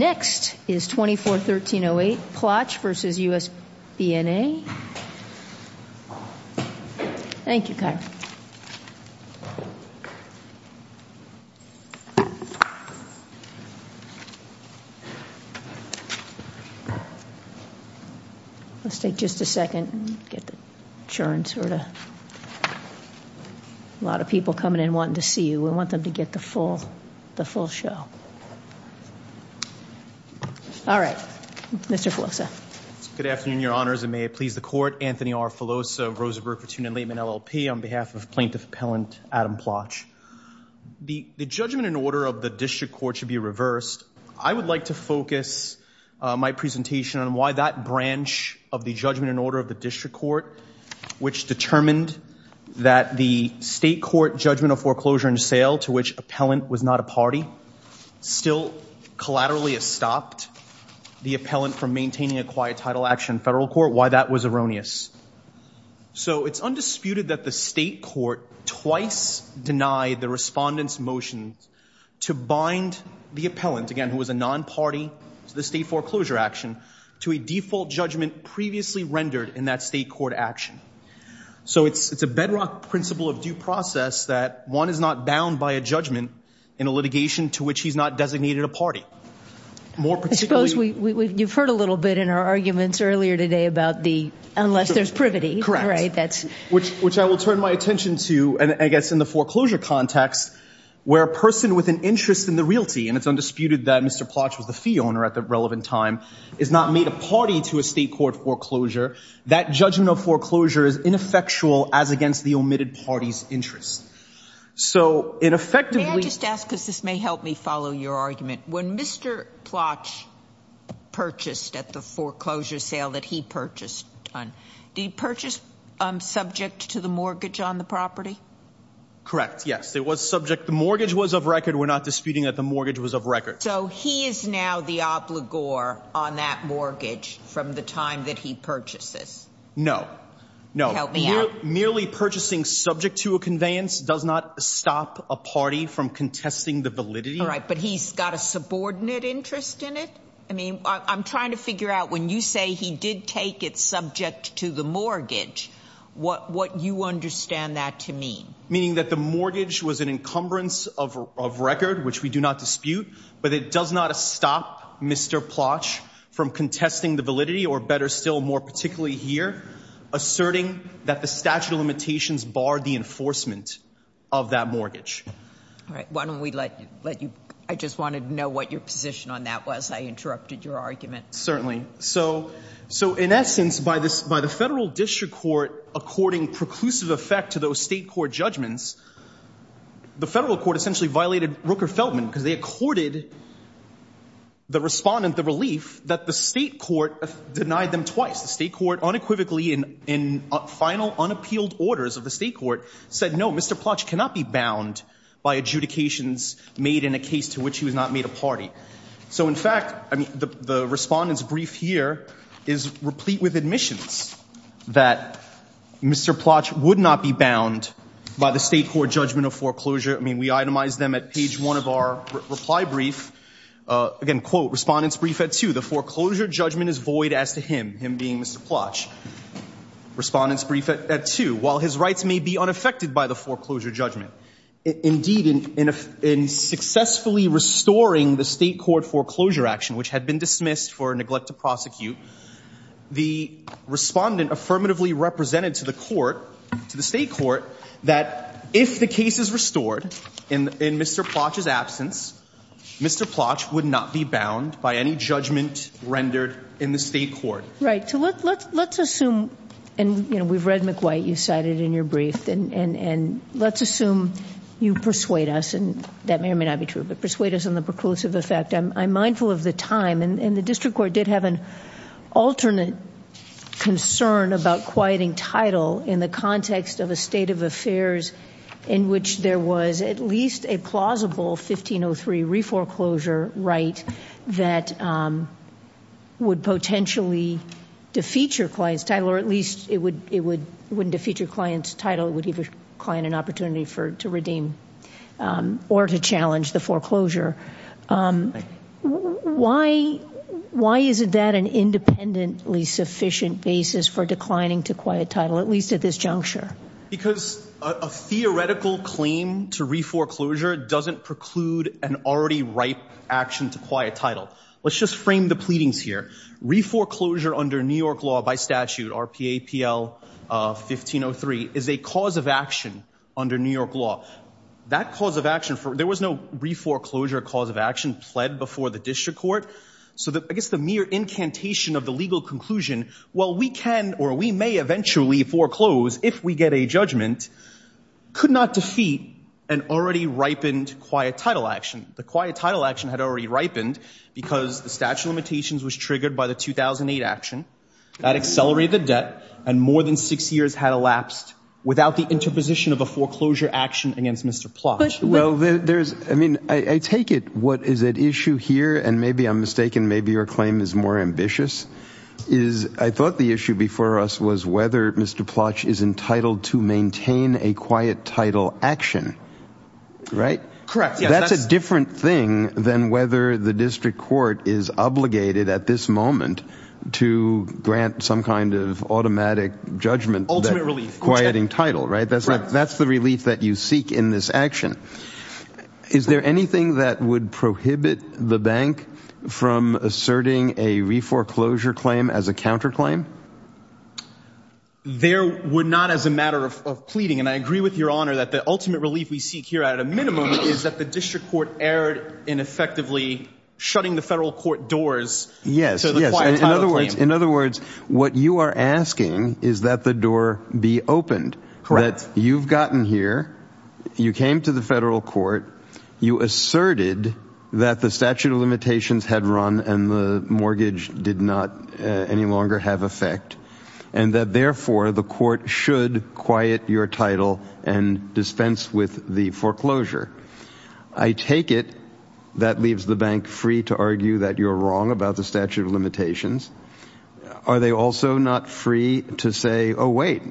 Next is 24-1308, Plotch v. U.S. BNA. All right. Mr. Filosa. Good afternoon, Your Honors, and may it please the Court. Anthony R. Filosa, Rosenberg Platoon and Laitman LLP, on behalf of Plaintiff Appellant Adam Plotch. The judgment in order of the district court should be reversed. I would like to focus my presentation on why that branch of the judgment in order of the district court, which determined that the state court judgment of foreclosure and sale, to which appellant was not a party, still collaterally stopped the appellant from maintaining a quiet title action in federal court. Why that was erroneous. So it's undisputed that the state court twice denied the respondent's motion to bind the appellant, again, who was a non-party to the state foreclosure action, to a default judgment previously rendered in that state court action. So it's a bedrock principle of due process that one is not bound by a judgment in a litigation to which he's not designated a party. I suppose you've heard a little bit in our arguments earlier today about the unless there's privity. Correct. Which I will turn my attention to, I guess, in the foreclosure context, where a person with an interest in the realty, and it's undisputed that Mr. Plotch was the fee owner at the relevant time, is not made a party to a state court foreclosure. That judgment of foreclosure is ineffectual as against the omitted party's interest. So, ineffectively- May I just ask, because this may help me follow your argument. When Mr. Plotch purchased at the foreclosure sale that he purchased on, did he purchase subject to the mortgage on the property? Correct. Yes, it was subject. The mortgage was of record. We're not disputing that the mortgage was of record. So, he is now the obligor on that mortgage from the time that he purchased this? No. No. Help me out. Merely purchasing subject to a conveyance does not stop a party from contesting the validity. All right, but he's got a subordinate interest in it? I mean, I'm trying to figure out when you say he did take it subject to the mortgage, what you understand that to mean. Meaning that the mortgage was an encumbrance of record, which we do not dispute, but it does not stop Mr. Plotch from contesting the validity, or better still, more particularly here, asserting that the statute of limitations barred the enforcement of that mortgage. All right, why don't we let you- I just wanted to know what your position on that was. I interrupted your argument. Certainly. So, in essence, by the federal district court according preclusive effect to those state court judgments, the federal court essentially violated Rooker-Feldman because they accorded the respondent the relief that the state court denied them twice. The state court unequivocally, in final unappealed orders of the state court, said no, Mr. Plotch cannot be bound by adjudications made in a case to which he was not made a party. So, in fact, the respondent's brief here is replete with admissions that Mr. Plotch would not be bound by the state court judgment of foreclosure. I mean, we itemized them at page one of our reply brief. Again, quote, respondent's brief at two. The foreclosure judgment is void as to him, him being Mr. Plotch. Respondent's brief at two. While his rights may be unaffected by the foreclosure judgment. Indeed, in successfully restoring the state court foreclosure action, which had been dismissed for neglect to prosecute, the respondent affirmatively represented to the court, to the state court, that if the case is restored in Mr. Plotch's absence, Mr. Plotch would not be bound by any judgment rendered in the state court. Right, so let's assume, and we've read McWhite, you cited in your brief, and let's assume you persuade us, and that may or may not be true, but persuade us on the preclusive effect. I'm mindful of the time, and the district court did have an alternate concern about quieting title in the context of a state of affairs in which there was at least a plausible 1503 re-foreclosure right that would potentially defeat your client's title, or at least it wouldn't defeat your client's title. It would give your client an opportunity to redeem or to challenge the foreclosure. Why isn't that an independently sufficient basis for declining to quiet title, at least at this juncture? Because a theoretical claim to re-foreclosure doesn't preclude an already ripe action to quiet title. Let's just frame the pleadings here. Re-foreclosure under New York law by statute, RPAPL 1503, is a cause of action under New York law. That cause of action, there was no re-foreclosure cause of action pled before the district court, so I guess the mere incantation of the legal conclusion, well, we can or we may eventually foreclose if we get a judgment, could not defeat an already ripened quiet title action. The quiet title action had already ripened because the statute of limitations was triggered by the 2008 action. That accelerated the debt, and more than six years had elapsed without the interposition of a foreclosure action against Mr. Plotch. Well, there's, I mean, I take it what is at issue here, and maybe I'm mistaken, maybe your claim is more ambitious, is I thought the issue before us was whether Mr. Plotch is entitled to maintain a quiet title action, right? Correct, yes. That's a different thing than whether the district court is obligated at this moment to grant some kind of automatic judgment. Ultimate relief. Quieting title, right? That's the relief that you seek in this action. Is there anything that would prohibit the bank from asserting a re-foreclosure claim as a counterclaim? There would not as a matter of pleading, and I agree with your honor that the ultimate relief we seek here at a minimum is that the district court erred in effectively shutting the federal court doors to the quiet title claim. In other words, what you are asking is that the door be opened. Correct. That you've gotten here, you came to the federal court, you asserted that the statute of limitations had run and the mortgage did not any longer have effect, and that therefore the court should quiet your title and dispense with the foreclosure. I take it that leaves the bank free to argue that you're wrong about the statute of limitations. Are they also not free to say, oh, wait,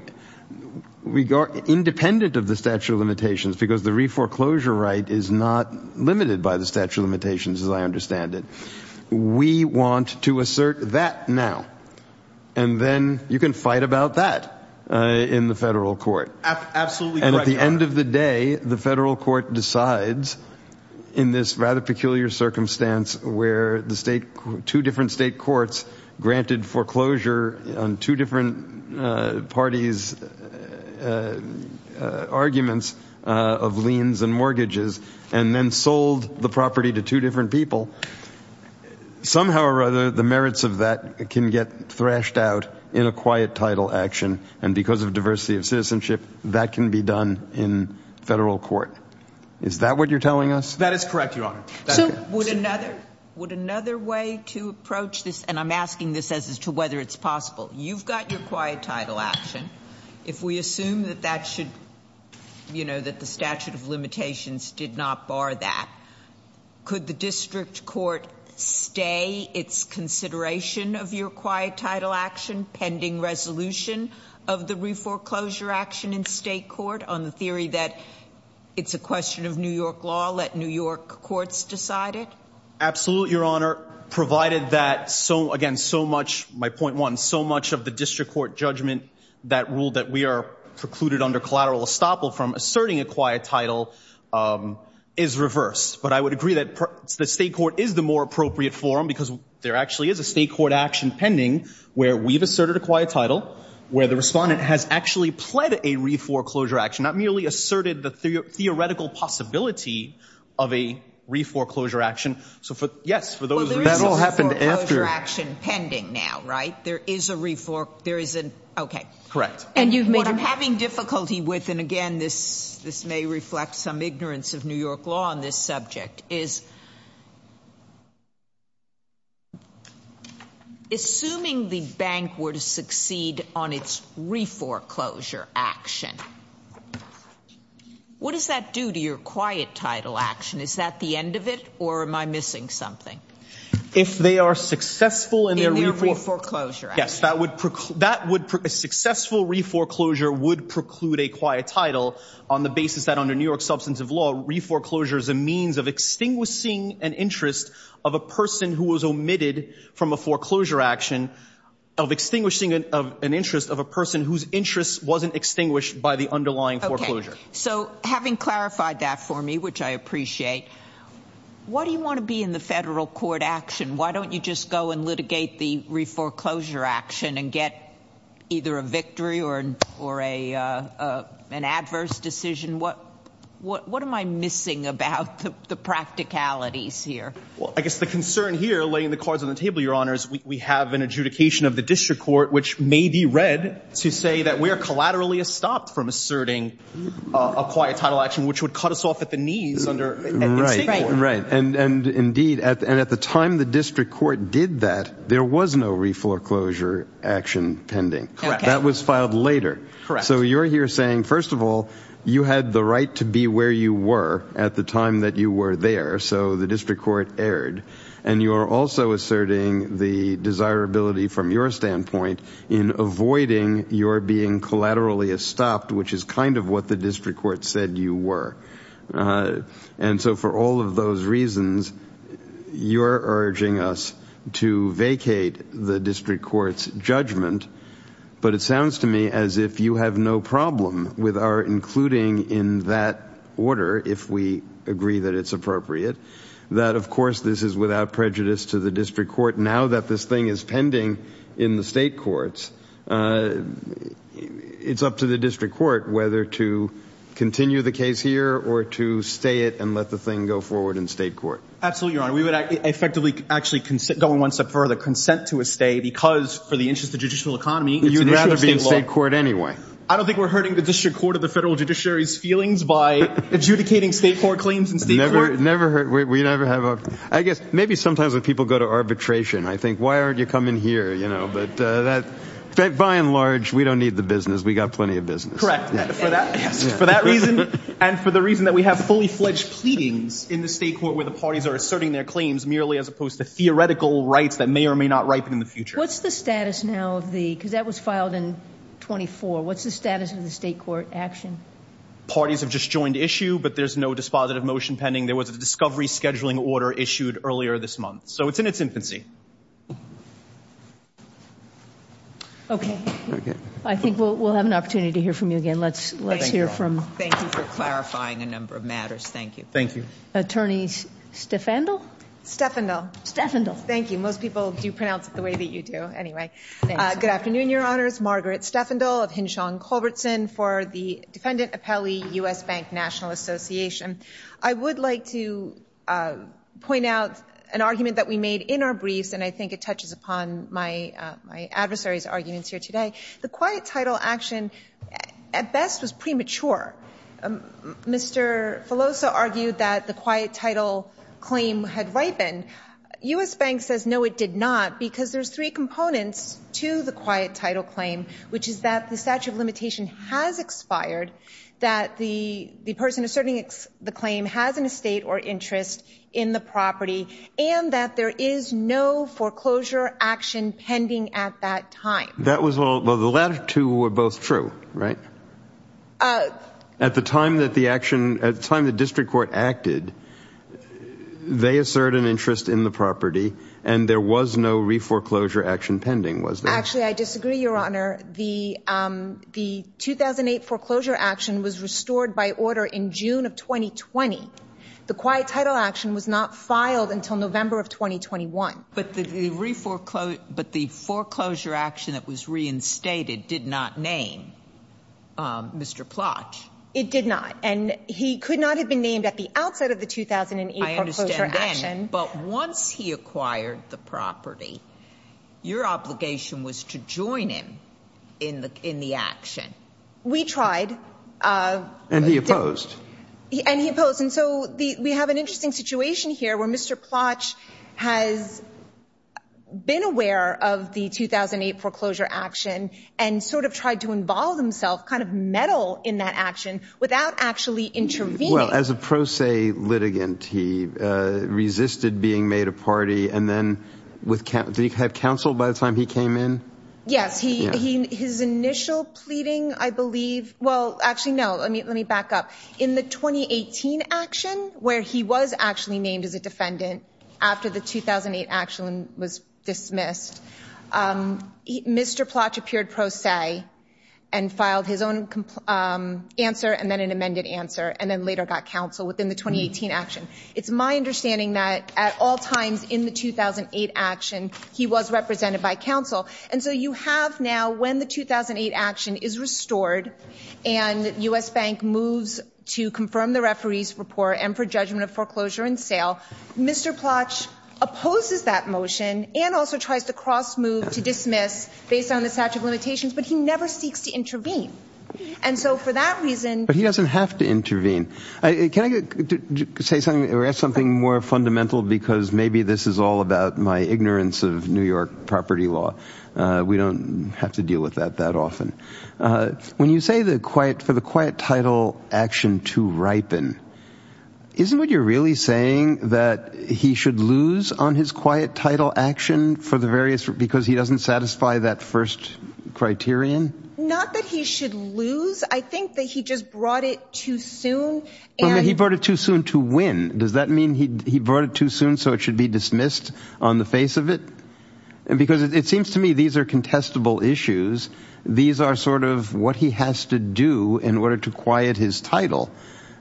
we are independent of the statute of limitations because the re-foreclosure right is not limited by the statute of limitations, as I understand it. We want to assert that now, and then you can fight about that in the federal court. Absolutely correct, Your Honor. And at the end of the day, the federal court decides, in this rather peculiar circumstance where two different state courts granted foreclosure on two different parties' arguments of liens and mortgages and then sold the property to two different people, somehow or other the merits of that can get thrashed out in a quiet title action, and because of diversity of citizenship that can be done in federal court. Is that what you're telling us? That is correct, Your Honor. Would another way to approach this, and I'm asking this as to whether it's possible. You've got your quiet title action. If we assume that the statute of limitations did not bar that, could the district court stay its consideration of your quiet title action pending resolution of the reforeclosure action in state court on the theory that it's a question of New York law, let New York courts decide it? Absolutely, Your Honor, provided that, again, my point one, so much of the district court judgment that ruled that we are precluded under collateral estoppel from asserting a quiet title is reversed. But I would agree that the state court is the more appropriate forum because there actually is a state court action pending where we've asserted a quiet title, where the respondent has actually pled a reforeclosure action, not merely asserted the theoretical possibility of a reforeclosure action. So, yes, for those reforeclosure action pending now, right? There is a reforeclosure action pending now, right? Correct. What I'm having difficulty with, and, again, this may reflect some ignorance of New York law on this subject, is assuming the bank were to succeed on its reforeclosure action, what does that do to your quiet title action? Is that the end of it, or am I missing something? If they are successful in their reforeclosure action. Yes, a successful reforeclosure would preclude a quiet title on the basis that under New York substance of law, reforeclosure is a means of extinguishing an interest of a person who was omitted from a foreclosure action, of extinguishing an interest of a person whose interest wasn't extinguished by the underlying foreclosure. Okay, so having clarified that for me, which I appreciate, why do you want to be in the federal court action? Why don't you just go and litigate the reforeclosure action and get either a victory or an adverse decision? What am I missing about the practicalities here? Well, I guess the concern here, laying the cards on the table, Your Honor, is we have an adjudication of the district court, which may be read to say that we are collaterally stopped from asserting a quiet title action, which would cut us off at the knees in state court. Right, and indeed, at the time the district court did that, there was no reforeclosure action pending. Correct. That was filed later. Correct. So you're here saying, first of all, you had the right to be where you were at the time that you were there, so the district court erred, and you are also asserting the desirability from your standpoint in avoiding your being collaterally stopped, which is kind of what the district court said you were. And so for all of those reasons, you're urging us to vacate the district court's judgment, but it sounds to me as if you have no problem with our including in that order, if we agree that it's appropriate, that, of course, this is without prejudice to the district court. Now that this thing is pending in the state courts, it's up to the district court whether to continue the case here or to stay it and let the thing go forward in state court. Absolutely, Your Honor. We would effectively actually, going one step further, consent to a stay because, for the interest of judicial economy, it's an issue of state law. You'd rather be in state court anyway. I don't think we're hurting the district court or the federal judiciary's feelings by adjudicating state court claims in state court. Never hurt. We never have a—I guess maybe sometimes when people go to arbitration, I think, why aren't you coming here? But by and large, we don't need the business. We've got plenty of business. Correct. For that reason and for the reason that we have fully-fledged pleadings in the state court where the parties are asserting their claims merely as opposed to theoretical rights that may or may not ripen in the future. What's the status now of the—because that was filed in 24. What's the status of the state court action? Parties have just joined issue, but there's no dispositive motion pending. There was a discovery scheduling order issued earlier this month, so it's in its infancy. Okay. Very good. I think we'll have an opportunity to hear from you again. Let's hear from— Thank you for clarifying a number of matters. Thank you. Thank you. Attorney Steffandl? Steffandl. Steffandl. Thank you. Most people do pronounce it the way that you do. Anyway, good afternoon, Your Honors. Margaret Steffandl of Hinshaw & Culbertson for the Defendant Appellee U.S. Bank National Association. I would like to point out an argument that we made in our briefs, and I think it touches upon my adversary's arguments here today. The quiet title action, at best, was premature. Mr. Filosa argued that the quiet title claim had ripened. U.S. Bank says, no, it did not, because there's three components to the quiet title claim, which is that the statute of limitation has expired, that the person asserting the claim has an estate or interest in the property, and that there is no foreclosure action pending at that time. Well, the latter two were both true, right? At the time the district court acted, they asserted an interest in the property, and there was no re-foreclosure action pending, was there? Actually, I disagree, Your Honor. The 2008 foreclosure action was restored by order in June of 2020. The quiet title action was not filed until November of 2021. But the foreclosure action that was reinstated did not name Mr. Plotch. It did not, and he could not have been named at the outset of the 2008 foreclosure action. But once he acquired the property, your obligation was to join him in the action. We tried. And he opposed. And he opposed. And so we have an interesting situation here where Mr. Plotch has been aware of the 2008 foreclosure action and sort of tried to involve himself, kind of meddle in that action, without actually intervening. Well, as a pro se litigant, he resisted being made a party, and then did he have counsel by the time he came in? Yes. His initial pleading, I believe, well, actually, no, let me back up. In the 2018 action, where he was actually named as a defendant after the 2008 action was dismissed, Mr. Plotch appeared pro se and filed his own answer and then an amended answer and then later got counsel within the 2018 action. It's my understanding that at all times in the 2008 action, he was represented by counsel. And so you have now, when the 2008 action is restored and U.S. Bank moves to confirm the referee's report and for judgment of foreclosure and sale, Mr. Plotch opposes that motion and also tries to cross-move to dismiss based on the statute of limitations, but he never seeks to intervene. And so for that reason— But he doesn't have to intervene. Can I ask something more fundamental because maybe this is all about my ignorance of New York property law. We don't have to deal with that that often. When you say for the quiet title action to ripen, isn't what you're really saying that he should lose on his quiet title action because he doesn't satisfy that first criterion? Not that he should lose. I think that he just brought it too soon. He brought it too soon to win. Does that mean he brought it too soon so it should be dismissed on the face of it? Because it seems to me these are contestable issues. These are sort of what he has to do in order to quiet his title.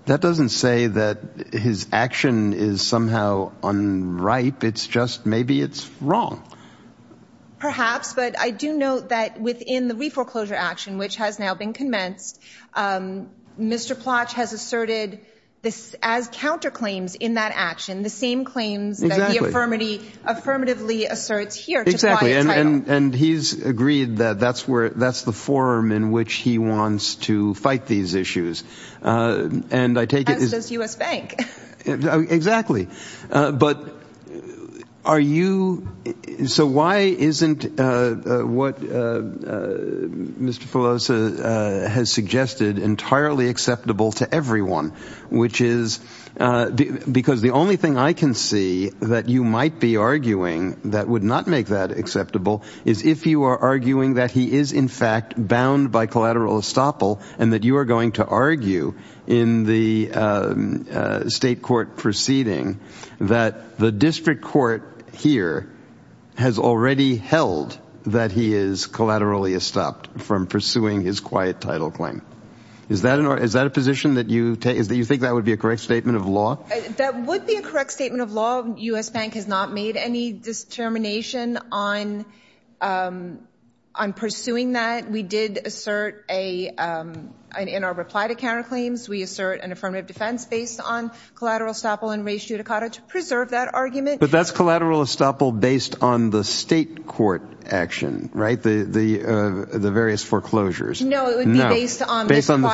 That doesn't say that his action is somehow unripe. It's just maybe it's wrong. Perhaps, but I do note that within the reforeclosure action, which has now been commenced, Mr. Plotch has asserted as counterclaims in that action, the same claims that he affirmatively asserts here to quiet title. And he's agreed that that's the forum in which he wants to fight these issues. As does U.S. Bank. Exactly. So why isn't what Mr. Pelosi has suggested entirely acceptable to everyone? Because the only thing I can see that you might be arguing that would not make that acceptable is if you are arguing that he is in fact bound by collateral estoppel and that you are going to argue in the state court proceeding that the district court here has already held that he is collaterally estopped from pursuing his quiet title claim. Is that a position that you think that would be a correct statement of law? That would be a correct statement of law. U.S. Bank has not made any determination on pursuing that. We did assert in our reply to counterclaims, we assert an affirmative defense based on collateral estoppel and raise judicata to preserve that argument. But that's collateral estoppel based on the state court action, right? The various foreclosures. No, it would be based on this federal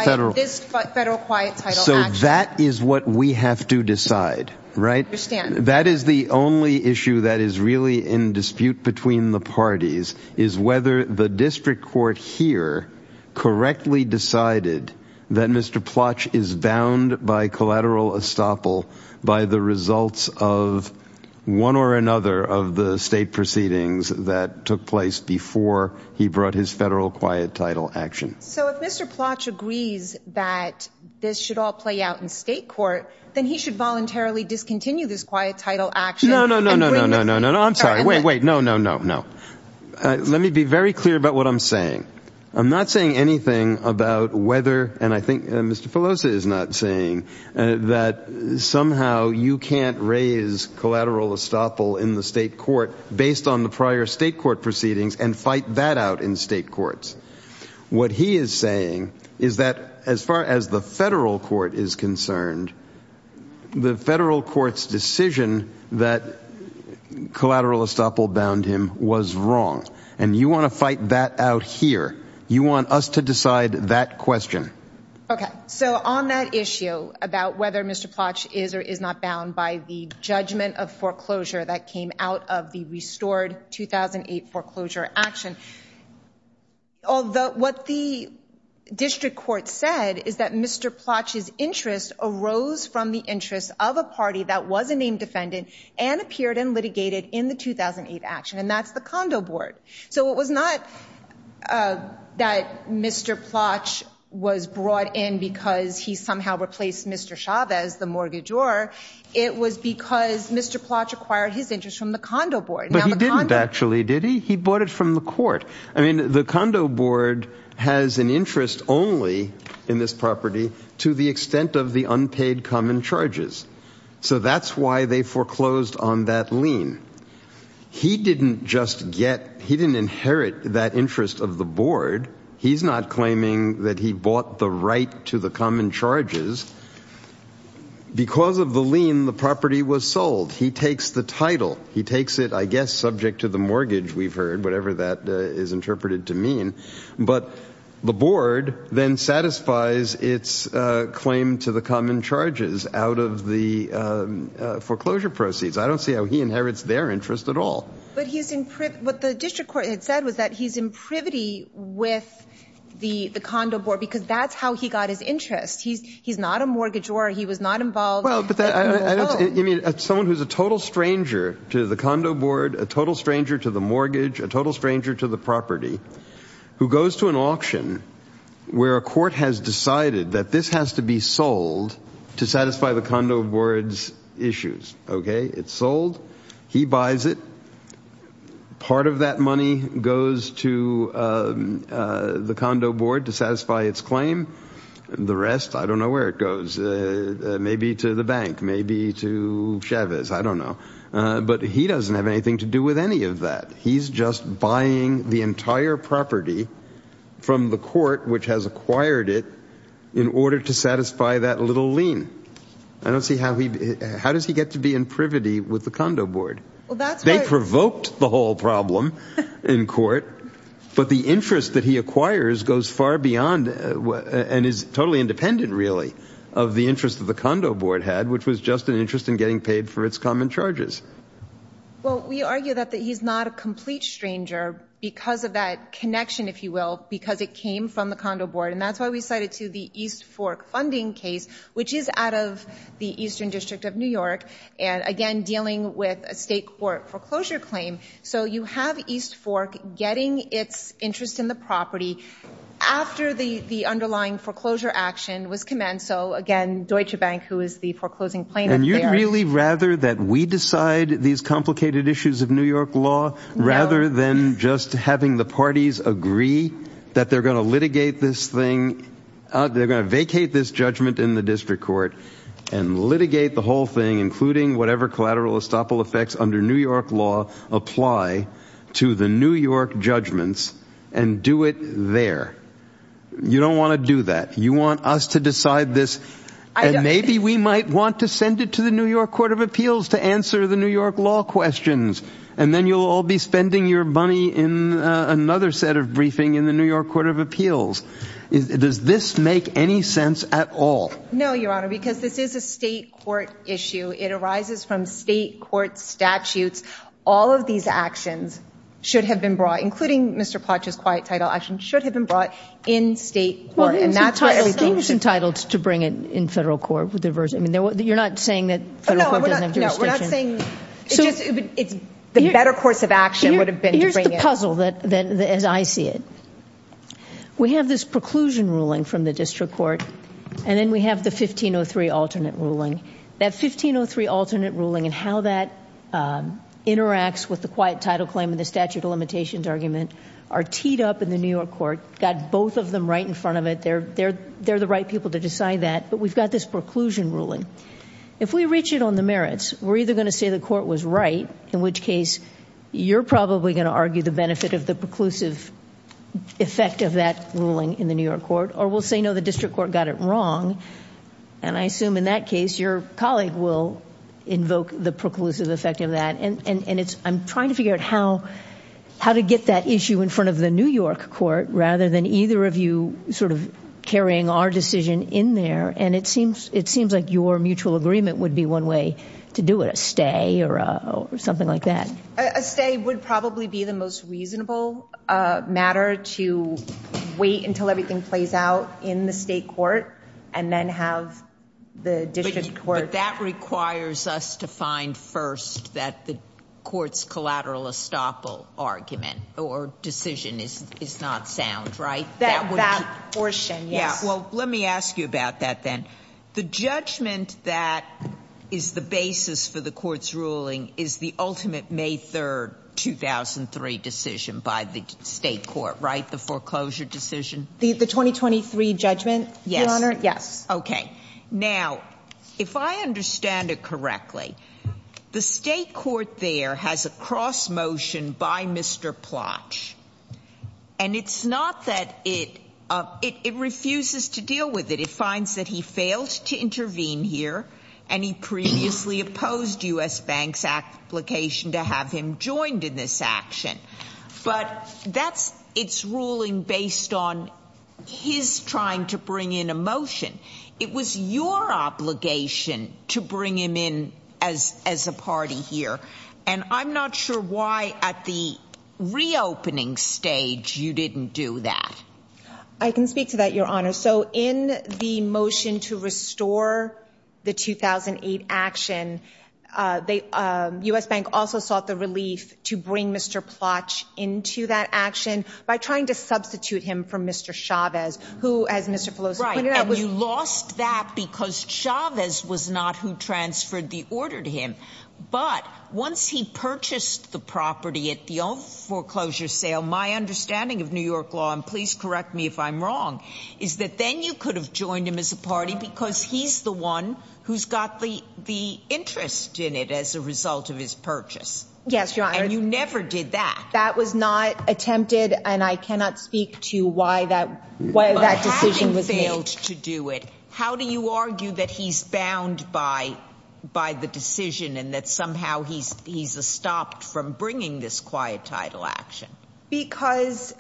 quiet title action. So that is what we have to decide, right? I understand. That is the only issue that is really in dispute between the parties is whether the district court here correctly decided that Mr. Plotch is bound by collateral estoppel by the results of one or another of the state proceedings that took place before he brought his federal quiet title action. So if Mr. Plotch agrees that this should all play out in state court, then he should voluntarily discontinue this quiet title action. No, no, no, no, no, no, no. I'm sorry. Wait, wait. No, no, no, no. Let me be very clear about what I'm saying. I'm not saying anything about whether, and I think Mr. Filosa is not saying, that somehow you can't raise collateral estoppel in the state court based on the prior state court proceedings and fight that out in state courts. What he is saying is that as far as the federal court is concerned, the federal court's decision that collateral estoppel bound him was wrong. And you want to fight that out here. You want us to decide that question. Okay. So on that issue about whether Mr. Plotch is or is not bound by the judgment of foreclosure that came out of the restored 2008 foreclosure action, what the district court said is that Mr. Plotch's interest arose from the interest of a party that was a named defendant and appeared and litigated in the 2008 action, and that's the condo board. So it was not that Mr. Plotch was brought in because he somehow replaced Mr. Chavez, the mortgagor, it was because Mr. Plotch acquired his interest from the condo board. But he didn't actually, did he? He bought it from the court. I mean, the condo board has an interest only in this property to the extent of the unpaid common charges. So that's why they foreclosed on that lien. He didn't just get, he didn't inherit that interest of the board. He's not claiming that he bought the right to the common charges. Because of the lien, the property was sold. He takes the title. He takes it, I guess, subject to the mortgage, we've heard, whatever that is interpreted to mean. But the board then satisfies its claim to the common charges out of the foreclosure proceeds. I don't see how he inherits their interest at all. But he's in, what the district court had said was that he's in privity with the condo board because that's how he got his interest. He's not a mortgagor. He was not involved. Well, but that, I mean, someone who's a total stranger to the condo board, a total stranger to the mortgage, a total stranger to the property, who goes to an auction where a court has decided that this has to be sold to satisfy the condo board's issues. Okay? It's sold. He buys it. Part of that money goes to the condo board to satisfy its claim. The rest, I don't know where it goes. Maybe to the bank. Maybe to Chavez. I don't know. But he doesn't have anything to do with any of that. He's just buying the entire property from the court, which has acquired it, in order to satisfy that little lien. I don't see how he, how does he get to be in privity with the condo board? They provoked the whole problem in court, but the interest that he acquires goes far beyond and is totally independent, really, of the interest that the condo board had, which was just an interest in getting paid for its common charges. Well, we argue that he's not a complete stranger because of that connection, if you will, because it came from the condo board. And that's why we cite it to the East Fork funding case, which is out of the Eastern District of New York, and, again, dealing with a state court foreclosure claim. So you have East Fork getting its interest in the property after the underlying foreclosure action was commenced. So, again, Deutsche Bank, who is the foreclosing plaintiff there. And you'd really rather that we decide these complicated issues of New York law rather than just having the parties agree that they're going to litigate this thing, they're going to vacate this judgment in the district court and litigate the whole thing, including whatever collateral estoppel effects under New York law apply to the New York judgments, and do it there. You don't want to do that. You want us to decide this, and maybe we might want to send it to the New York Court of Appeals to answer the New York law questions, and then you'll all be spending your money in another set of briefing in the New York Court of Appeals. Does this make any sense at all? No, Your Honor, because this is a state court issue. It arises from state court statutes. All of these actions should have been brought, including Mr. Plotch's quiet title action, should have been brought in state court. Well, he was entitled to bring it in federal court. You're not saying that federal court doesn't have jurisdiction? The better course of action would have been to bring it in. Here's the puzzle as I see it. We have this preclusion ruling from the district court, and then we have the 1503 alternate ruling. That 1503 alternate ruling and how that interacts with the quiet title claim and the statute of limitations argument are teed up in the New York court, got both of them right in front of it. They're the right people to decide that, but we've got this preclusion ruling. If we reach it on the merits, we're either going to say the court was right, in which case you're probably going to argue the benefit of the preclusive effect of that ruling in the New York court, or we'll say, no, the district court got it wrong, and I assume in that case your colleague will invoke the preclusive effect of that. And I'm trying to figure out how to get that issue in front of the New York court rather than either of you sort of carrying our decision in there, and it seems like your mutual agreement would be one way to do it, a stay or something like that. A stay would probably be the most reasonable matter to wait until everything plays out in the state court and then have the district court. But that requires us to find first that the court's collateral estoppel argument or decision is not sound, right? That portion, yes. Well, let me ask you about that then. The judgment that is the basis for the court's ruling is the ultimate May 3, 2003 decision by the state court, right? The foreclosure decision? The 2023 judgment, Your Honor, yes. Okay. Now, if I understand it correctly, the state court there has a cross motion by Mr. Plotch, and it's not that it refuses to deal with it. It finds that he failed to intervene here, and he previously opposed U.S. Bank's application to have him joined in this action. But that's its ruling based on his trying to bring in a motion. It was your obligation to bring him in as a party here, and I'm not sure why at the reopening stage you didn't do that. I can speak to that, Your Honor. So in the motion to restore the 2008 action, U.S. Bank also sought the relief to bring Mr. Plotch into that action by trying to substitute him for Mr. Chavez, who, as Mr. Pelosi pointed out, was- Right, and you lost that because Chavez was not who transferred the order to him. But once he purchased the property at the old foreclosure sale, my understanding of New York law, and please correct me if I'm wrong, is that then you could have joined him as a party because he's the one who's got the interest in it as a result of his purchase. Yes, Your Honor. And you never did that. That was not attempted, and I cannot speak to why that decision was made. How do you argue that he's bound by the decision and that somehow he's stopped from bringing this quiet title action? Because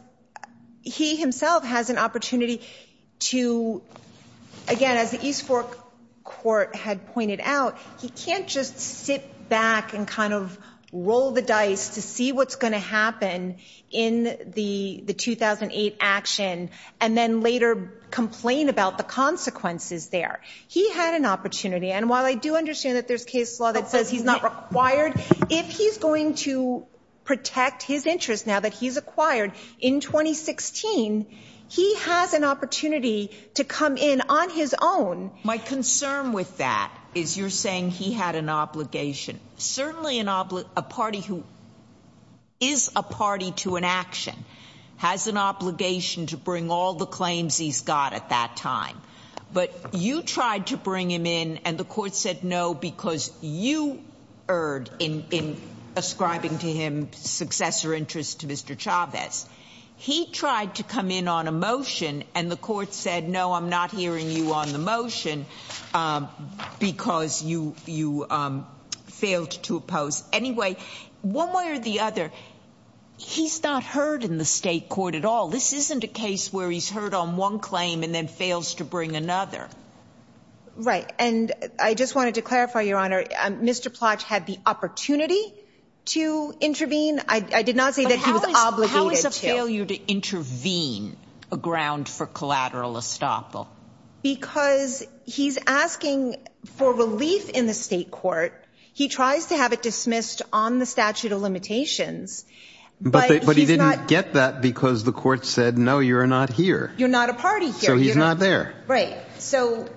he himself has an opportunity to, again, as the East Fork court had pointed out, he can't just sit back and kind of roll the dice to see what's going to happen in the 2008 action and then later complain about the consequences there. He had an opportunity, and while I do understand that there's case law that says he's not required, if he's going to protect his interest now that he's acquired in 2016, he has an opportunity to come in on his own. My concern with that is you're saying he had an obligation. Certainly a party who is a party to an action has an obligation to bring all the claims he's got at that time. But you tried to bring him in, and the court said no because you erred in ascribing to him successor interest to Mr. Chavez. He tried to come in on a motion, and the court said no, I'm not hearing you on the motion because you failed to oppose. Anyway, one way or the other, he's not heard in the state court at all. This isn't a case where he's heard on one claim and then fails to bring another. Right, and I just wanted to clarify, Your Honor, Mr. Plach had the opportunity to intervene. I did not say that he was obligated to. But how is a failure to intervene a ground for collateral estoppel? Because he's asking for relief in the state court. He tries to have it dismissed on the statute of limitations. But he didn't get that because the court said no, you're not here. You're not a party here. So he's not there. Right.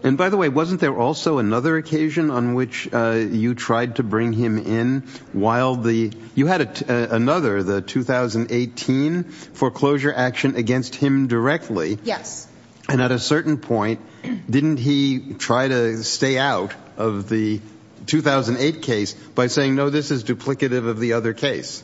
And by the way, wasn't there also another occasion on which you tried to bring him in while the you had another, the 2018 foreclosure action against him directly? Yes. And at a certain point, didn't he try to stay out of the 2008 case by saying, no, this is duplicative of the other case?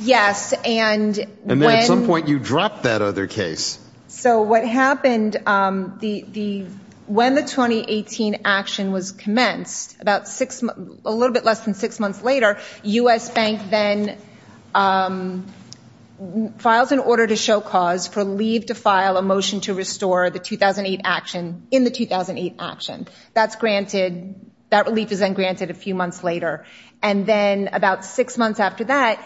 Yes. And at some point you dropped that other case. So what happened, when the 2018 action was commenced, about six, a little bit less than six months later, U.S. Bank then files an order to show cause for leave to file a motion to restore the 2008 action in the 2008 action. That's granted. That relief is then granted a few months later. And then about six months after that,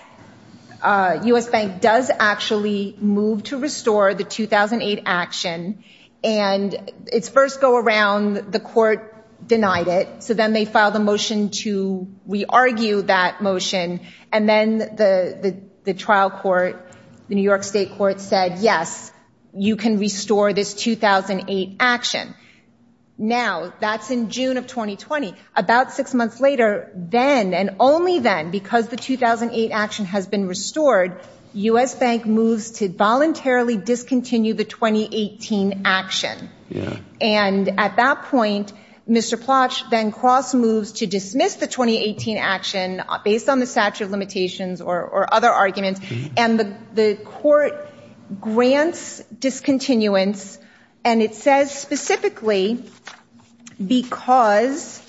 U.S. Bank does actually move to restore the 2008 action. And its first go around, the court denied it. So then they filed a motion to re-argue that motion. And then the trial court, the New York state court, said, yes, you can restore this 2008 action. Now, that's in June of 2020. About six months later, then and only then, because the 2008 action has been restored, U.S. Bank moves to voluntarily discontinue the 2018 action. Yeah. And at that point, Mr. Plotch then cross-moves to dismiss the 2018 action based on the statute of limitations or other arguments. And the court grants discontinuance. And it says specifically because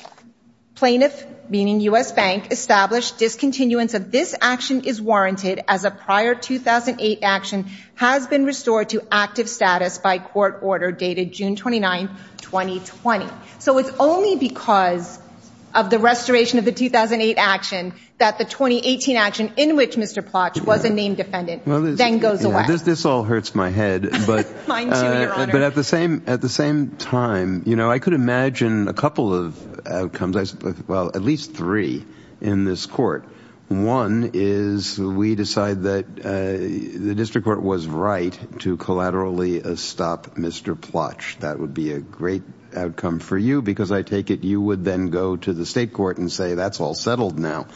plaintiff, meaning U.S. Bank, established discontinuance of this action is warranted as a prior 2008 action has been restored to active status by court order dated June 29, 2020. So it's only because of the restoration of the 2008 action that the 2018 action in which Mr. Plotch was a named defendant then goes away. This all hurts my head. Mine, too, Your Honor. But at the same time, you know, I could imagine a couple of outcomes. Well, at least three in this court. One is we decide that the district court was right to collaterally stop Mr. Plotch. That would be a great outcome for you because I take it you would then go to the state court and say that's all settled now.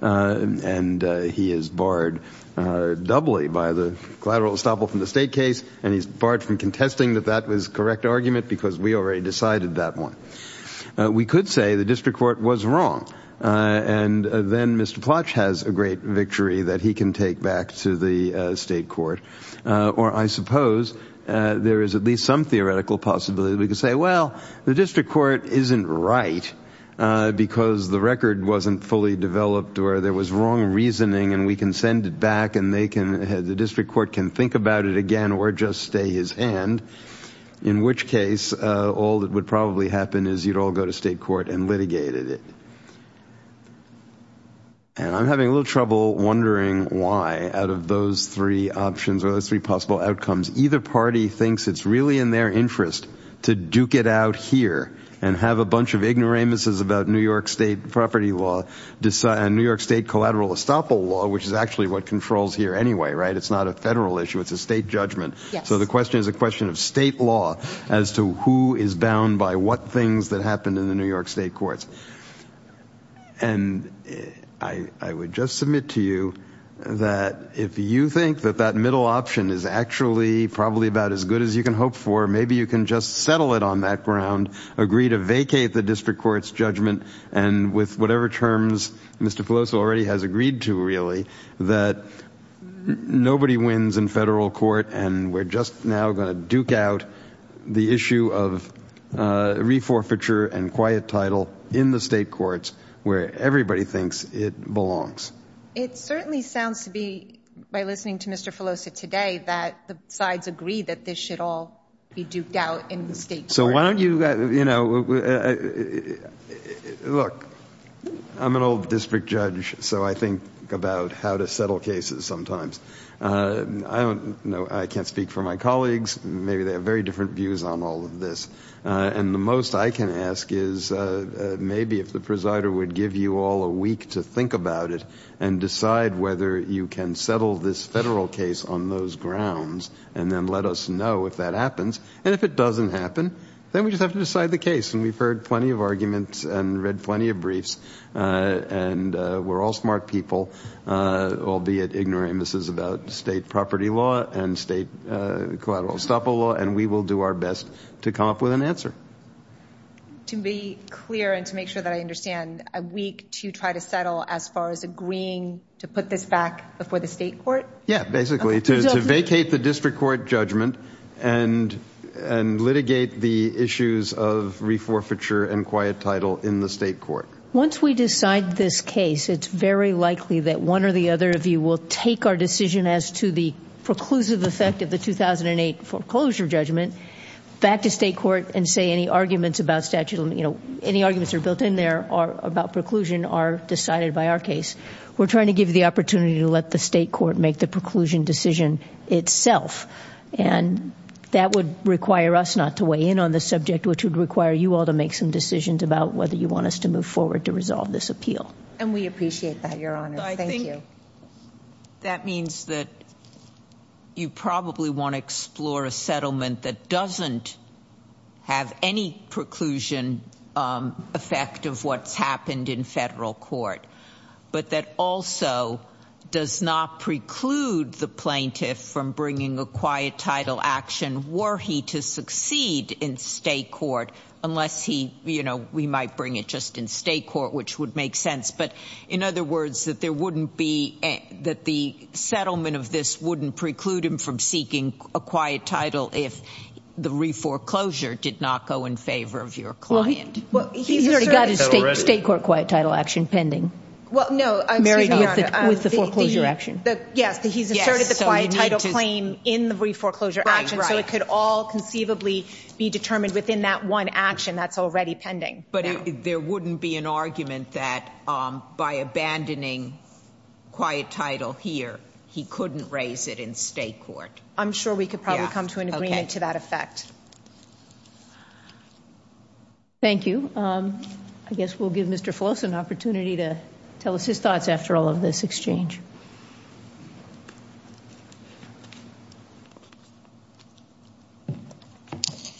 And he is barred doubly by the collateral estoppel from the state case. And he's barred from contesting that that was correct argument because we already decided that one. We could say the district court was wrong. And then Mr. Plotch has a great victory that he can take back to the state court. Or I suppose there is at least some theoretical possibility. We could say, well, the district court isn't right because the record wasn't fully developed or there was wrong reasoning. And we can send it back and the district court can think about it again or just stay his hand. In which case, all that would probably happen is you'd all go to state court and litigate it. And I'm having a little trouble wondering why out of those three options or those three possible outcomes, either party thinks it's really in their interest to duke it out here and have a bunch of ignoramuses about New York State property law, New York State collateral estoppel law, which is actually what controls here anyway, right? It's not a federal issue. It's a state judgment. So the question is a question of state law as to who is bound by what things that happened in the New York State courts. And I would just submit to you that if you think that that middle option is actually probably about as good as you can hope for, maybe you can just settle it on that ground, agree to vacate the district court's judgment. And with whatever terms Mr. Pelosi already has agreed to, really, that nobody wins in federal court. And we're just now going to duke out the issue of reforfeiture and quiet title in the state courts where everybody thinks it belongs. It certainly sounds to me by listening to Mr. Pelosi today that the sides agree that this should all be duked out in the state court. So why don't you, you know, look, I'm an old district judge, so I think about how to settle cases sometimes. I don't know. I can't speak for my colleagues. Maybe they have very different views on all of this. And the most I can ask is maybe if the presider would give you all a week to think about it and decide whether you can settle this federal case on those grounds and then let us know if that happens. And if it doesn't happen, then we just have to decide the case. And we've heard plenty of arguments and read plenty of briefs. And we're all smart people, albeit ignorant. This is about state property law and state collateral estoppel law. And we will do our best to come up with an answer. To be clear and to make sure that I understand, a week to try to settle as far as agreeing to put this back before the state court? Yeah, basically to vacate the district court judgment and litigate the issues of reforfeiture and quiet title in the state court. Once we decide this case, it's very likely that one or the other of you will take our decision as to the preclusive effect of the 2008 foreclosure judgment back to state court and say any arguments are built in there about preclusion are decided by our case. We're trying to give you the opportunity to let the state court make the preclusion decision itself. And that would require us not to weigh in on the subject, which would require you all to make some decisions about whether you want us to move forward to resolve this appeal. And we appreciate that, Your Honor. Thank you. That means that you probably want to explore a settlement that doesn't have any preclusion effect of what's happened in federal court, but that also does not preclude the plaintiff from bringing a quiet title action were he to succeed in state court, unless we might bring it just in state court, which would make sense. But in other words, that the settlement of this wouldn't preclude him from seeking a quiet title if the reforeclosure did not go in favor of your client. He's already got his state court quiet title action pending, married with the foreclosure action. Yes, he's asserted the quiet title claim in the reforeclosure action, so it could all conceivably be determined within that one action that's already pending. But there wouldn't be an argument that by abandoning quiet title here, he couldn't raise it in state court. I'm sure we could probably come to an agreement to that effect. Thank you. I guess we'll give Mr. Floss an opportunity to tell us his thoughts after all of this exchange.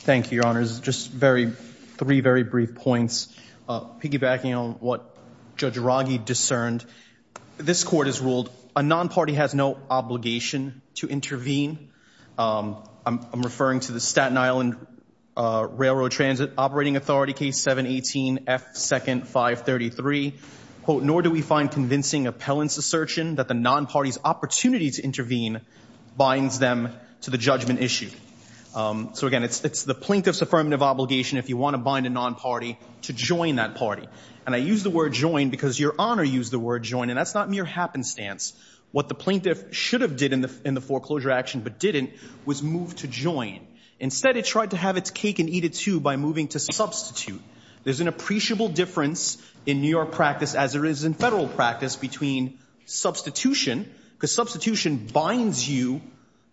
Thank you, Your Honors. Just three very brief points. Piggybacking on what Judge Rogge discerned, this court has ruled a non-party has no obligation to intervene. I'm referring to the Staten Island Railroad Transit Operating Authority case 718F2nd 533. Nor do we find convincing appellants' assertion that the non-party's opportunity to intervene binds them to the judgment issue. So, again, it's the plaintiff's affirmative obligation, if you want to bind a non-party, to join that party. And I use the word join because Your Honor used the word join, and that's not mere happenstance. What the plaintiff should have did in the foreclosure action but didn't was move to join. Instead, it tried to have its cake and eat it, too, by moving to substitute. There's an appreciable difference in New York practice, as there is in federal practice, between substitution, because substitution binds you,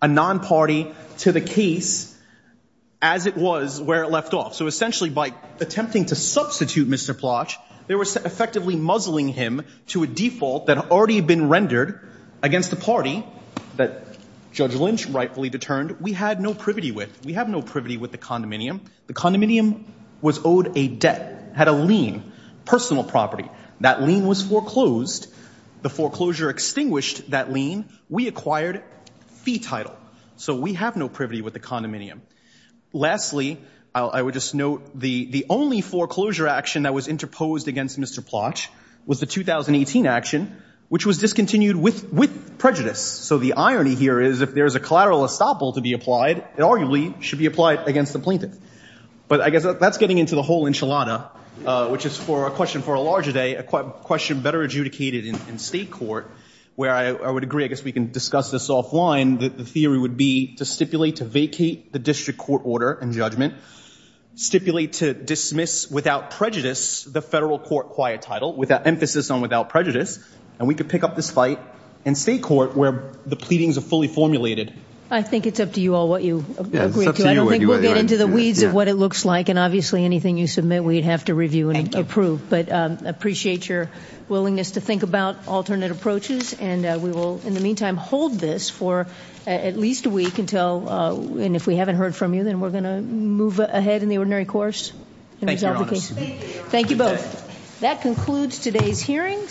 a non-party, to the case as it was where it left off. So, essentially, by attempting to substitute Mr. Plotch, they were effectively muzzling him to a default that had already been rendered against the party that Judge Lynch rightfully determined we had no privity with. We have no privity with the condominium. The condominium was owed a debt, had a lien, personal property. That lien was foreclosed. The foreclosure extinguished that lien. We acquired fee title. So we have no privity with the condominium. Lastly, I would just note the only foreclosure action that was interposed against Mr. Plotch was the 2018 action, which was discontinued with prejudice. So the irony here is if there is a collateral estoppel to be applied, it arguably should be applied against the plaintiff. But I guess that's getting into the whole enchilada, which is for a question for a larger day, a question better adjudicated in state court, where I would agree, I guess we can discuss this offline, the theory would be to stipulate to vacate the district court order and judgment, stipulate to dismiss without prejudice the federal court quiet title with an emphasis on without prejudice, and we could pick up this fight in state court where the pleadings are fully formulated. I think it's up to you all what you agree to. I don't think we'll get into the weeds of what it looks like, and obviously anything you submit we'd have to review and approve. But I appreciate your willingness to think about alternate approaches, and we will in the meantime hold this for at least a week until, and if we haven't heard from you, then we're going to move ahead in the ordinary course. Thank you, Your Honor. Thank you both. That concludes today's hearings.